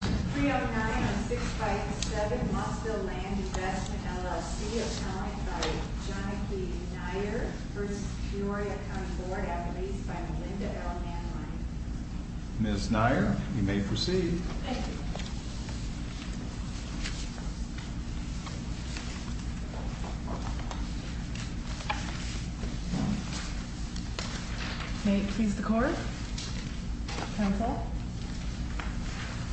309-657 Mossville Land Investment, LLC, account by Jonike Nair, v. Peoria County Board, at the lease by Melinda L. Manline. Ms. Nair, you may proceed. Thank you. May it please the Court, counsel?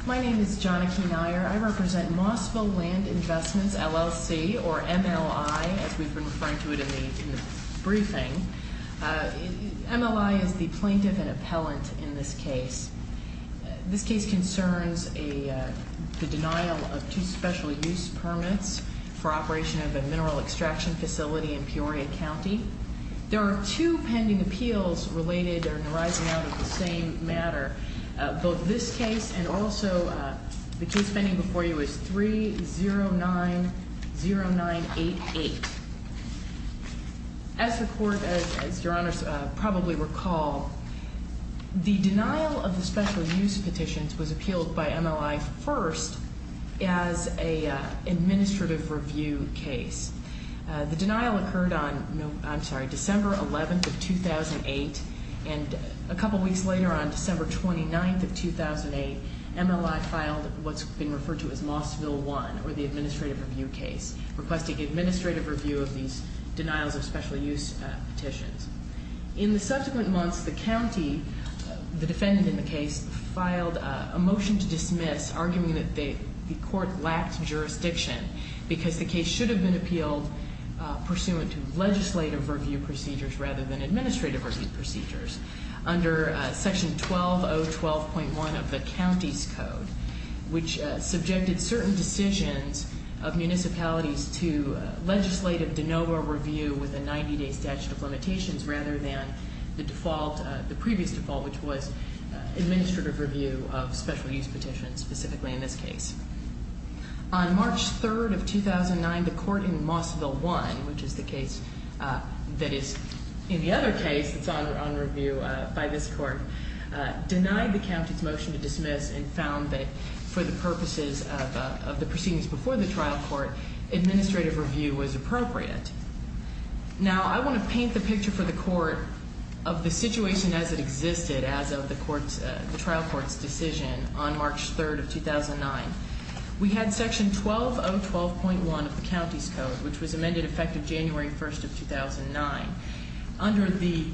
My name is Jonike Nair. I represent Mossville Land Investments, LLC, or MLI, as we've been referring to it in the briefing. MLI is the plaintiff and appellant in this case. This case concerns the denial of two special use permits for operation of a mineral extraction facility in Peoria County. There are two pending appeals related or arising out of the same matter. Both this case and also the case pending before you is 309-0988. As the Court, as Your Honors probably recall, the denial of the special use petitions was appealed by MLI first as an administrative review case. The denial occurred on, I'm sorry, December 11th of 2008, and a couple weeks later, on December 29th of 2008, MLI filed what's been referred to as Mossville 1, or the administrative review case, requesting administrative review of these denials of special use petitions. In the subsequent months, the county, the defendant in the case, filed a motion to dismiss, arguing that the court lacked jurisdiction because the case should have been appealed pursuant to legislative review procedures rather than administrative review procedures under Section 12012.1 of the county's code, which subjected certain decisions of municipalities to legislative de novo review with a 90-day statute of limitations rather than the default, the previous default, which was administrative review of special use petitions, specifically in this case. On March 3rd of 2009, the court in Mossville 1, which is the case that is in the other case that's on review by this court, denied the county's motion to dismiss and found that for the purposes of the proceedings before the trial court, administrative review was appropriate. Now, I want to paint the picture for the court of the situation as it existed as of the trial court's decision on March 3rd of 2009. We had Section 12012.1 of the county's code, which was amended effective January 1st of 2009. Under the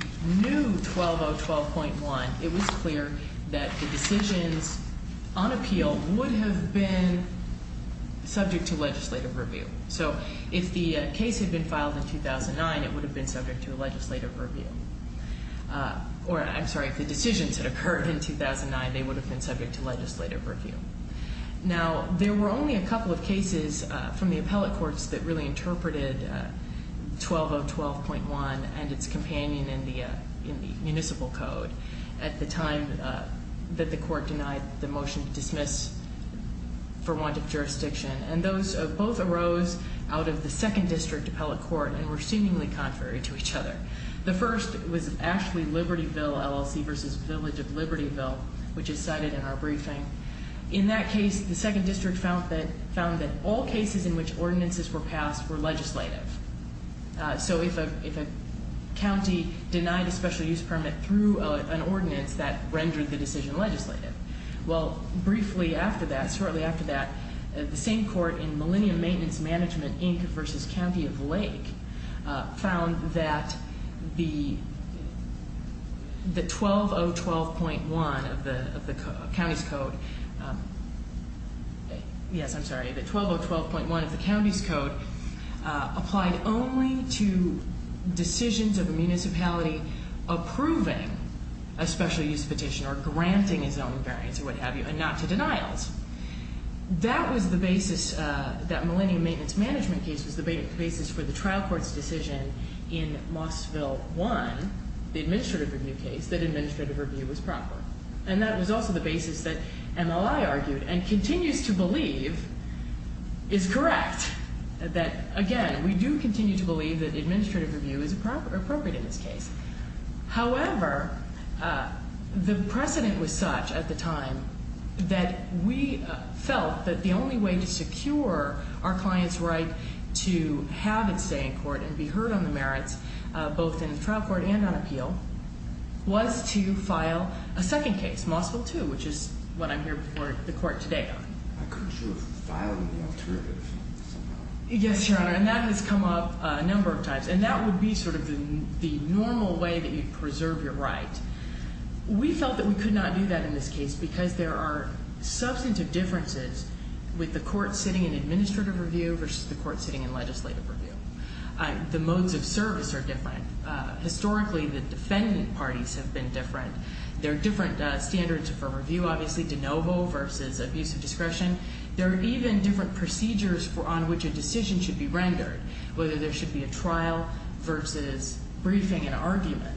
new 12012.1, it was clear that the decisions on appeal would have been subject to legislative review. So if the case had been filed in 2009, it would have been subject to legislative review. Or, I'm sorry, if the decisions had occurred in 2009, they would have been subject to legislative review. Now, there were only a couple of cases from the appellate courts that really interpreted 12012.1 and its companion in the municipal code at the time that the court denied the motion to dismiss for want of jurisdiction. And those both arose out of the second district appellate court and were seemingly contrary to each other. The first was actually Libertyville LLC v. Village of Libertyville, which is cited in our briefing. In that case, the second district found that all cases in which ordinances were passed were legislative. So if a county denied a special use permit through an ordinance, that rendered the decision legislative. Well, briefly after that, shortly after that, the same court in Millennium Maintenance Management Inc. v. County of Lake found that the 12012.1 of the county's code, yes, I'm sorry, the 12012.1 of the county's code applied only to decisions of a municipality approving a special use petition or granting its own variance or what have you, and not to denials. That was the basis that Millennium Maintenance Management case was the basis for the trial court's decision in Mossville 1, the administrative review case, that administrative review was proper. And that was also the basis that MLI argued and continues to believe is correct, that, again, we do continue to believe that administrative review is appropriate in this case. However, the precedent was such at the time that we felt that the only way to secure our client's right to have its say in court and be heard on the merits, both in the trial court and on appeal, was to file a second case, Mossville 2, which is what I'm here before the court today on. I'm not sure if you filed the alternative somehow. Yes, Your Honor, and that has come up a number of times. And that would be sort of the normal way that you preserve your right. We felt that we could not do that in this case because there are substantive differences with the court sitting in administrative review versus the court sitting in legislative review. The modes of service are different. Historically, the defendant parties have been different. There are different standards for review, obviously, de novo versus abuse of discretion. There are even different procedures on which a decision should be rendered, whether there should be a trial versus briefing and argument.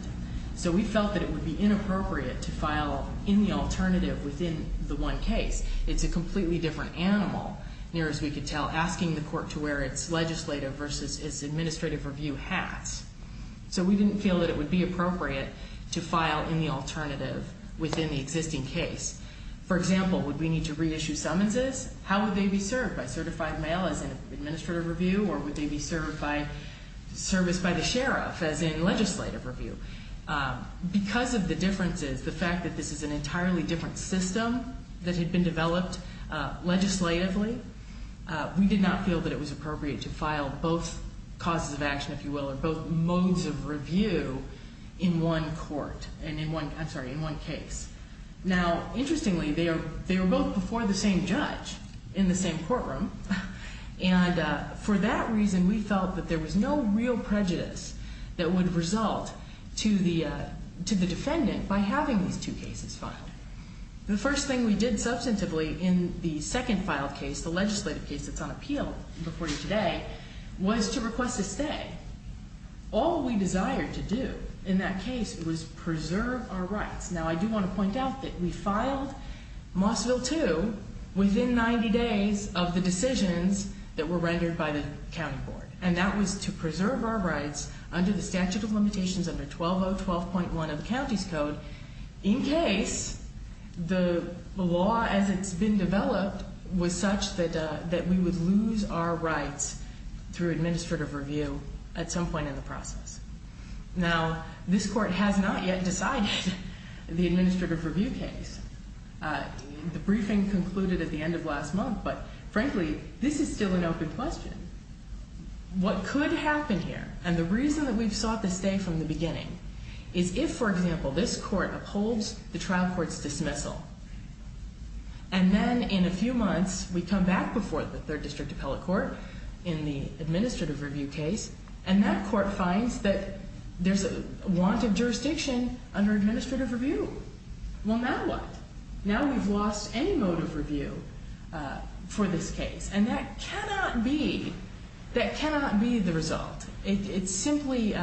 So we felt that it would be inappropriate to file any alternative within the one case. It's a completely different animal, near as we could tell, asking the court to where its legislative versus its administrative review has. So we didn't feel that it would be appropriate to file any alternative within the existing case. For example, would we need to reissue summonses? How would they be served, by certified mail as in administrative review, or would they be serviced by the sheriff as in legislative review? Because of the differences, the fact that this is an entirely different system that had been developed legislatively, we did not feel that it was appropriate to file both causes of action, if you will, or both modes of review in one court and in one case. Now, interestingly, they were both before the same judge in the same courtroom, and for that reason, we felt that there was no real prejudice that would result to the defendant by having these two cases filed. The first thing we did substantively in the second filed case, the legislative case that's on appeal before you today, was to request a stay. All we desired to do in that case was preserve our rights. Now, I do want to point out that we filed Mossville 2 within 90 days of the decisions that were rendered by the county board, and that was to preserve our rights under the statute of limitations under 12012.1 of the county's code in case the law as it's been developed was such that we would lose our rights through administrative review at some point in the process. Now, this court has not yet decided the administrative review case. The briefing concluded at the end of last month, but frankly, this is still an open question. What could happen here, and the reason that we've sought the stay from the beginning, is if, for example, this court upholds the trial court's dismissal, and then in a few months, we come back before the third district appellate court in the administrative review case, and that court finds that there's a want of jurisdiction under administrative review. Well, now what? Now we've lost any motive review for this case, and that cannot be the result. It simply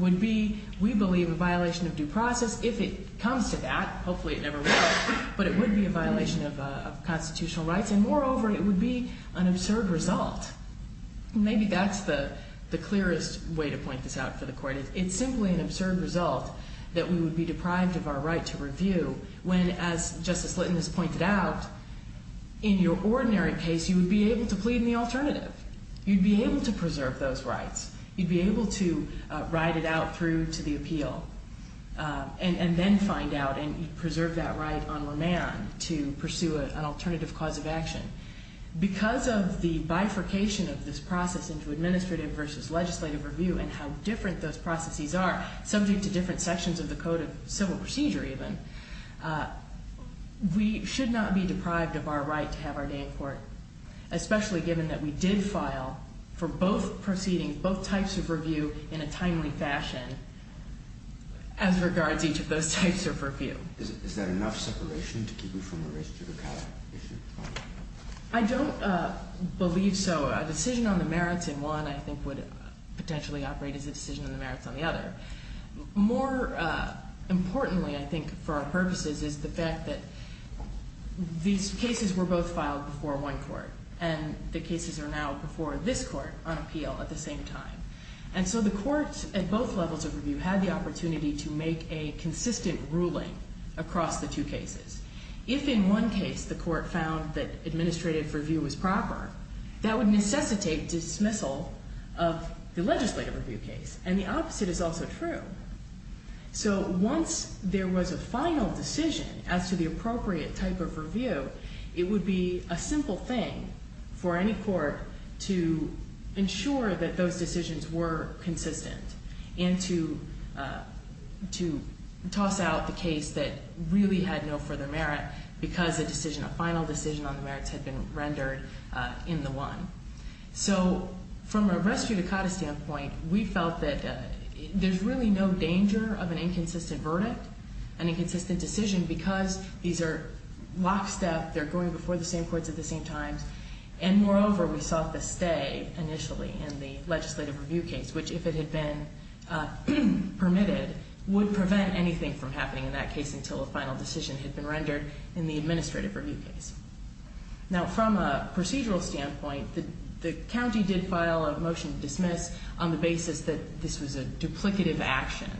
would be, we believe, a violation of due process. If it comes to that, hopefully it never will, but it would be a violation of constitutional rights, and moreover, it would be an absurd result. Maybe that's the clearest way to point this out for the court. It's simply an absurd result that we would be deprived of our right to review, when, as Justice Litton has pointed out, in your ordinary case, you would be able to plead in the alternative. You'd be able to preserve those rights. You'd be able to ride it out through to the appeal, and then find out, and you'd preserve that right on remand to pursue an alternative cause of action. Because of the bifurcation of this process into administrative versus legislative review, and how different those processes are, subject to different sections of the Code of Civil Procedure even, we should not be deprived of our right to have our day in court, especially given that we did file for both proceedings, both types of review, in a timely fashion, as regards each of those types of review. Is that enough separation to keep you from a race judicata issue? I don't believe so. A decision on the merits in one, I think, would potentially operate as a decision on the merits on the other. More importantly, I think, for our purposes, is the fact that these cases were both filed before one court, and the cases are now before this court on appeal at the same time. And so the courts at both levels of review had the opportunity to make a consistent ruling across the two cases. If in one case the court found that administrative review was proper, that would necessitate dismissal of the legislative review case, and the opposite is also true. So once there was a final decision as to the appropriate type of review, it would be a simple thing for any court to ensure that those decisions were consistent and to toss out the case that really had no further merit because a decision, a final decision on the merits had been rendered in the one. So from a race judicata standpoint, we felt that there's really no danger of an inconsistent verdict, an inconsistent decision, because these are lockstep. They're going before the same courts at the same times. And moreover, we saw the stay initially in the legislative review case, which if it had been permitted would prevent anything from happening in that case until a final decision had been rendered in the administrative review case. Now, from a procedural standpoint, the county did file a motion to dismiss on the basis that this was a duplicative action,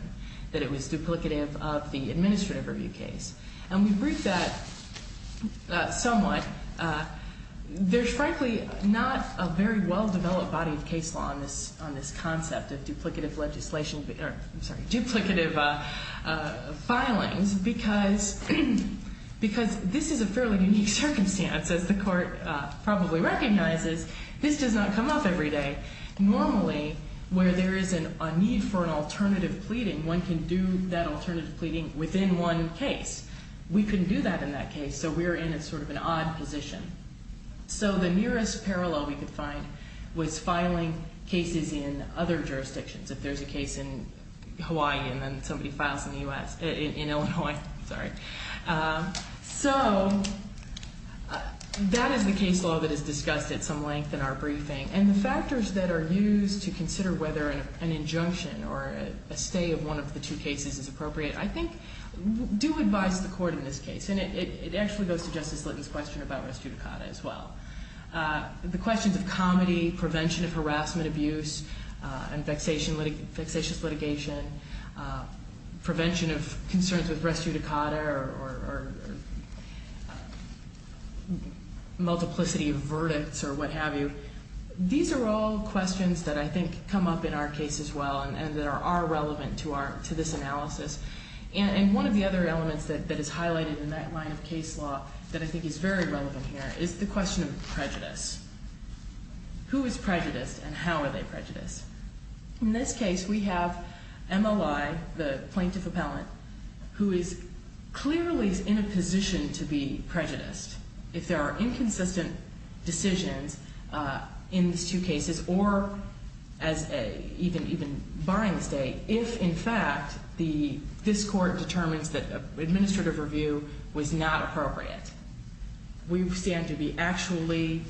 that it was duplicative of the administrative review case. And we briefed that somewhat. There's frankly not a very well-developed body of case law on this concept of duplicative legislation, I'm sorry, duplicative filings because this is a fairly unique circumstance. As the court probably recognizes, this does not come up every day. Normally, where there is a need for an alternative pleading, one can do that alternative pleading within one case. We couldn't do that in that case, so we're in a sort of an odd position. So the nearest parallel we could find was filing cases in other jurisdictions. If there's a case in Hawaii and then somebody files in the U.S. In Illinois, sorry. So that is the case law that is discussed at some length in our briefing. And the factors that are used to consider whether an injunction or a stay of one of the two cases is appropriate, I think do advise the court in this case. And it actually goes to Justice Litton's question about res judicata as well. The questions of comedy, prevention of harassment, abuse, and vexatious litigation, prevention of concerns with res judicata or multiplicity of verdicts or what have you, these are all questions that I think come up in our case as well and that are relevant to this analysis. And one of the other elements that is highlighted in that line of case law that I think is very relevant here is the question of prejudice. Who is prejudiced and how are they prejudiced? In this case, we have MLI, the plaintiff appellant, who is clearly in a position to be prejudiced. If there are inconsistent decisions in these two cases or even barring the stay, if in fact this court determines that administrative review was not appropriate, we stand to be actually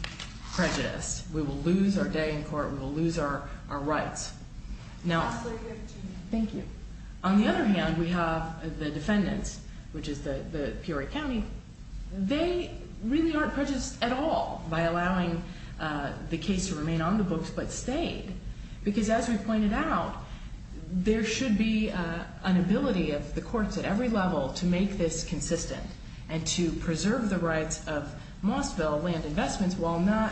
prejudiced. We will lose our day in court. We will lose our rights. On the other hand, we have the defendants, which is the Peoria County. They really aren't prejudiced at all by allowing the case to remain on the books but stayed. Because as we pointed out, there should be an ability of the courts at every level to make this consistent and to preserve the rights of Mossville land investments while not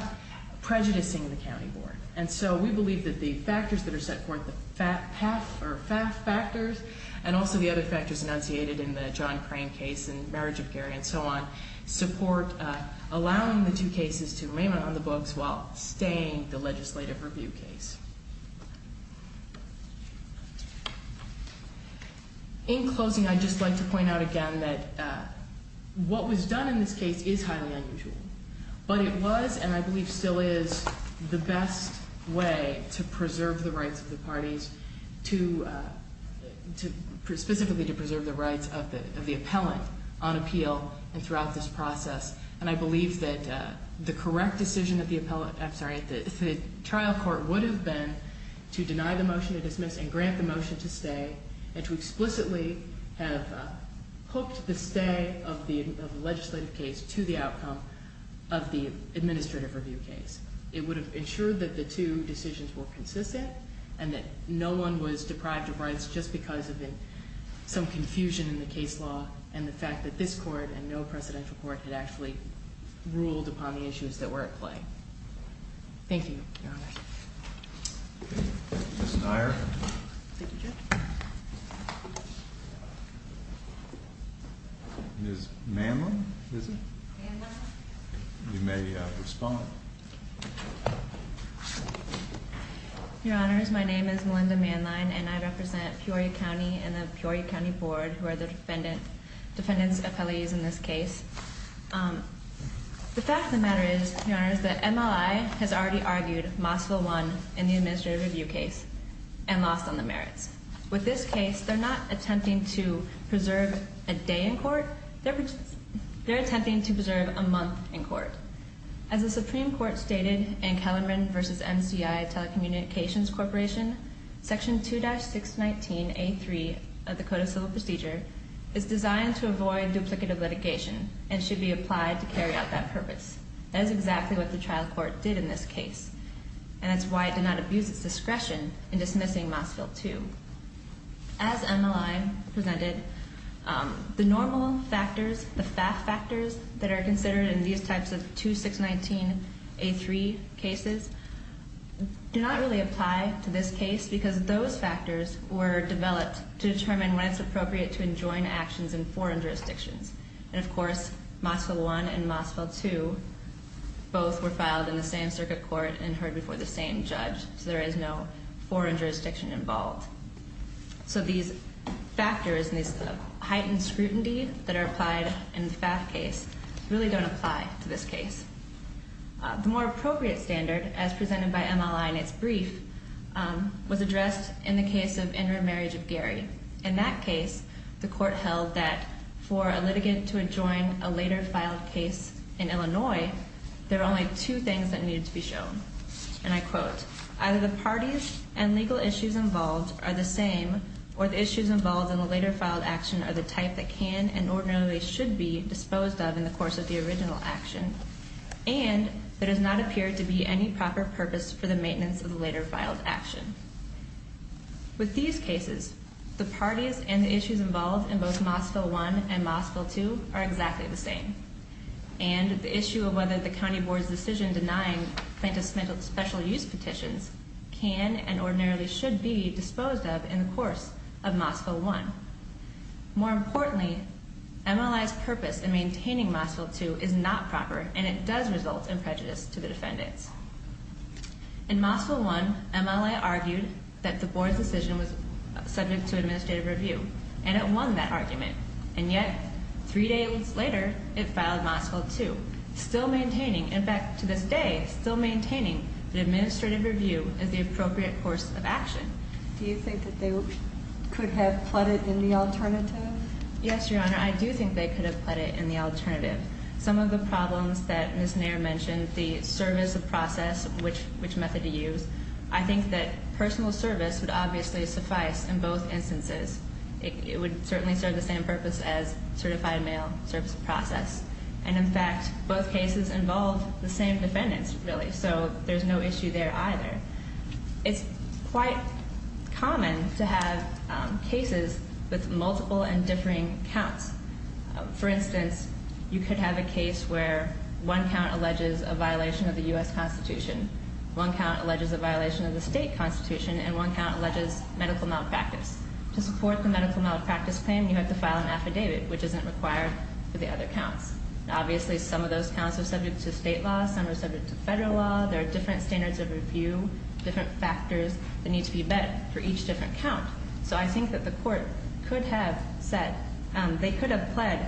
prejudicing the county board. And so we believe that the factors that are set forth, the FAFF factors, and also the other factors enunciated in the John Crane case and marriage of Gary and so on, support allowing the two cases to remain on the books while staying the legislative review case. In closing, I'd just like to point out again that what was done in this case is highly unusual. But it was, and I believe still is, the best way to preserve the rights of the parties, specifically to preserve the rights of the appellant on appeal and throughout this process. And I believe that the correct decision of the trial court would have been to deny the motion to dismiss and grant the motion to stay and to explicitly have hooked the stay of the legislative case to the outcome of the administrative review case. It would have ensured that the two decisions were consistent and that no one was deprived of rights just because of some confusion in the case law and the fact that this court and no presidential court had actually ruled upon the issues that were at play. Thank you, Your Honor. Ms. Neier. Thank you, Judge. Ms. Manline, is it? Manline. You may respond. Your Honor, my name is Melinda Manline, and I represent Peoria County and the Peoria County Board, who are the defendant's appellees in this case. The fact of the matter is, Your Honor, is that MLI has already argued Mossville won in the administrative review case and lost on the merits. With this case, they're not attempting to preserve a day in court. They're attempting to preserve a month in court. As the Supreme Court stated in Kellerman v. MCI Telecommunications Corporation, Section 2-619A3 of the Code of Civil Procedure is designed to avoid duplicative litigation and should be applied to carry out that purpose. That is exactly what the trial court did in this case, and that's why it did not abuse its discretion in dismissing Mossville 2. As MLI presented, the normal factors, the FAF factors that are considered in these types of 2-619A3 cases do not really apply to this case because those factors were developed to determine when it's appropriate to enjoin actions in foreign jurisdictions. And, of course, Mossville 1 and Mossville 2 both were filed in the same circuit court and heard before the same judge, so there is no foreign jurisdiction involved. So these factors and this heightened scrutiny that are applied in the FAF case really don't apply to this case. The more appropriate standard, as presented by MLI in its brief, was addressed in the case of interim marriage of Gary. In that case, the court held that for a litigant to enjoin a later filed case in Illinois, there are only two things that needed to be shown, and I quote, either the parties and legal issues involved are the same or the issues involved in the later filed action are the type that can and ordinarily should be disposed of in the course of the original action and there does not appear to be any proper purpose for the maintenance of the later filed action. With these cases, the parties and the issues involved in both Mossville 1 and Mossville 2 are exactly the same and the issue of whether the county board's decision denying plaintiff's special use petitions can and ordinarily should be disposed of in the course of Mossville 1. More importantly, MLI's purpose in maintaining Mossville 2 is not proper and it does result in prejudice to the defendants. In Mossville 1, MLI argued that the board's decision was subject to administrative review and it won that argument and yet, three days later, it filed Mossville 2, still maintaining, in fact, to this day, still maintaining that administrative review is the appropriate course of action. Do you think that they could have put it in the alternative? Yes, Your Honor, I do think they could have put it in the alternative. Some of the problems that Ms. Nair mentioned, the service of process, which method to use, I think that personal service would obviously suffice in both instances. It would certainly serve the same purpose as certified mail service of process and, in fact, both cases involve the same defendants, really, so there's no issue there either. It's quite common to have cases with multiple and differing counts. For instance, you could have a case where one count alleges a violation of the U.S. Constitution, one count alleges a violation of the state constitution, and one count alleges medical malpractice. To support the medical malpractice claim, you have to file an affidavit, which isn't required for the other counts. Obviously, some of those counts are subject to state law, some are subject to federal law. There are different standards of review, different factors that need to be met for each different count. So I think that the court could have said they could have pled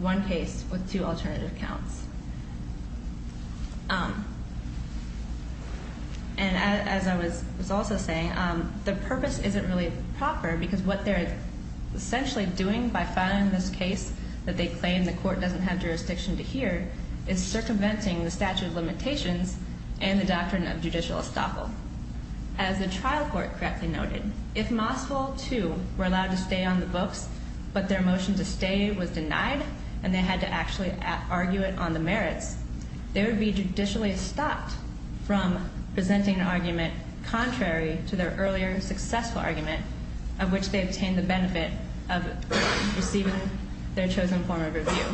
one case with two alternative counts. And as I was also saying, the purpose isn't really proper, because what they're essentially doing by filing this case that they claim the court doesn't have jurisdiction to hear is circumventing the statute of limitations and the doctrine of judicial estoppel. As the trial court correctly noted, if Mossville, too, were allowed to stay on the books, but their motion to stay was denied and they had to actually argue it on the merits, they would be judicially stopped from presenting an argument contrary to their earlier successful argument, of which they obtained the benefit of receiving their chosen form of review.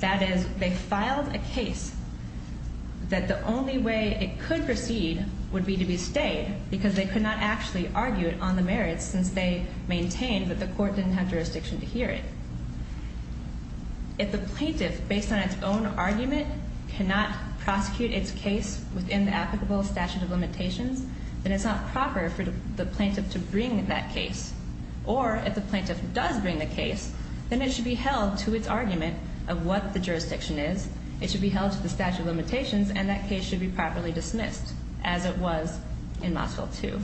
That is, they filed a case that the only way it could proceed would be to be stayed, because they could not actually argue it on the merits since they maintained that the court didn't have jurisdiction to hear it. If the plaintiff, based on its own argument, cannot prosecute its case within the applicable statute of limitations, then it's not proper for the plaintiff to bring that case. Or, if the plaintiff does bring the case, then it should be held to its argument of what the jurisdiction is, it should be held to the statute of limitations, and that case should be properly dismissed, as it was in Mossville, too.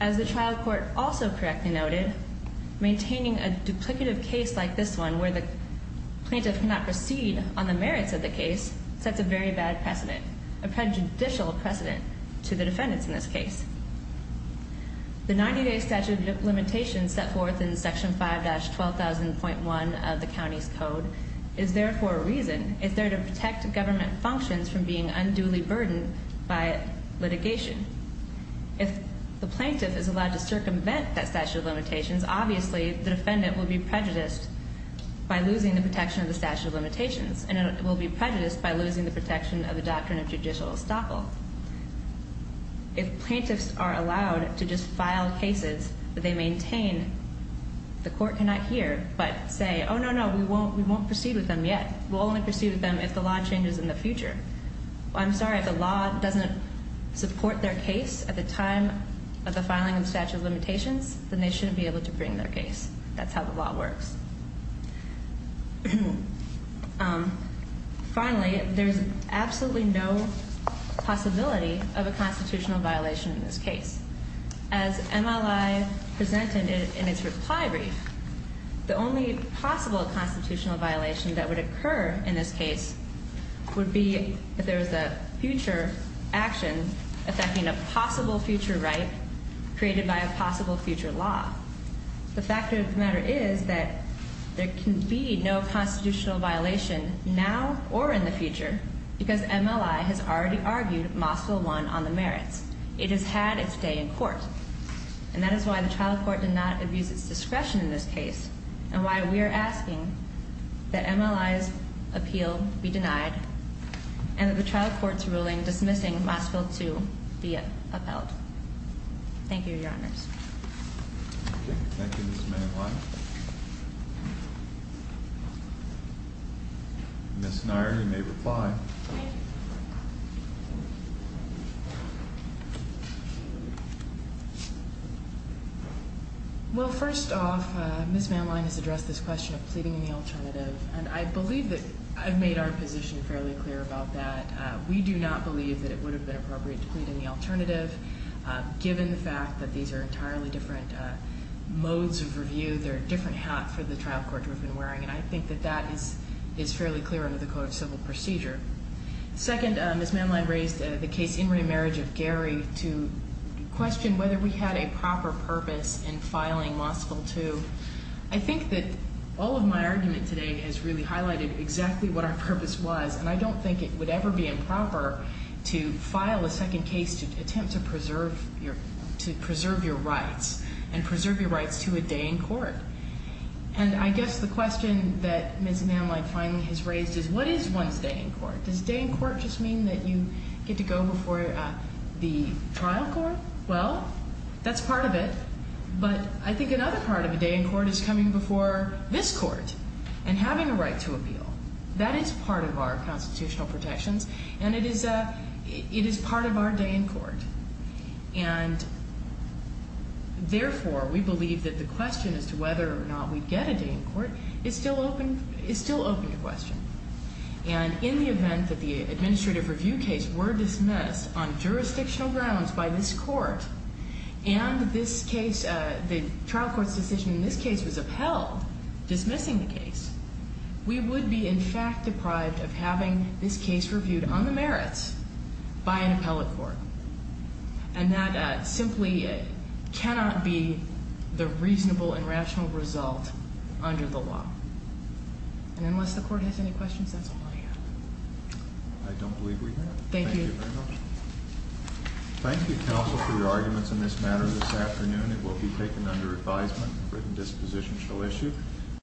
As the trial court also correctly noted, maintaining a duplicative case like this one, where the plaintiff cannot proceed on the merits of the case, sets a very bad precedent, a prejudicial precedent to the defendants in this case. The 90-day statute of limitations set forth in Section 5-12000.1 of the county's code is there for a reason. It's there to protect government functions from being unduly burdened by litigation. If the plaintiff is allowed to circumvent that statute of limitations, obviously the defendant will be prejudiced by losing the protection of the statute of limitations, and it will be prejudiced by losing the protection of the doctrine of judicial estoppel. If plaintiffs are allowed to just file cases that they maintain, the court cannot hear but say, oh, no, no, we won't proceed with them yet. We'll only proceed with them if the law changes in the future. I'm sorry, if the law doesn't support their case at the time of the filing of the statute of limitations, then they shouldn't be able to bring their case. That's how the law works. Finally, there's absolutely no possibility of a constitutional violation in this case. As MLI presented in its reply brief, the only possible constitutional violation that would occur in this case would be if there was a future action affecting a possible future right created by a possible future law. The fact of the matter is that there can be no constitutional violation now or in the future because MLI has already argued Mossville 1 on the merits. It has had its day in court. And that is why the trial court did not abuse its discretion in this case and why we are asking that MLI's appeal be denied and that the trial court's ruling dismissing Mossville 2 be upheld. Thank you, Your Honors. Thank you, Ms. Manlein. Ms. Neier, you may reply. Well, first off, Ms. Manlein has addressed this question of pleading in the alternative, and I believe that I've made our position fairly clear about that. We do not believe that it would have been appropriate to plead in the alternative. Given the fact that these are entirely different modes of review, they're a different hat for the trial court we've been wearing, and I think that that is fairly clear under the Code of Civil Procedure. Second, Ms. Manlein raised the case in remarriage of Gary to question whether we had a proper purpose in filing Mossville 2. I think that all of my argument today has really highlighted exactly what our purpose was, and I don't think it would ever be improper to file a second case to attempt to preserve your rights and preserve your rights to a day in court. And I guess the question that Ms. Manlein finally has raised is, what is one's day in court? Does a day in court just mean that you get to go before the trial court? Well, that's part of it. But I think another part of a day in court is coming before this court and having a right to appeal. That is part of our constitutional protections, and it is part of our day in court. And therefore, we believe that the question as to whether or not we'd get a day in court is still open to question. And in the event that the administrative review case were dismissed on jurisdictional grounds by this court and the trial court's decision in this case was upheld dismissing the case, we would be in fact deprived of having this case reviewed on the merits by an appellate court. And that simply cannot be the reasonable and rational result under the law. And unless the court has any questions, that's all I have. I don't believe we have. Thank you. Thank you very much. Thank you, counsel, for your arguments in this matter this afternoon. It will be taken under advisement. A written disposition shall issue.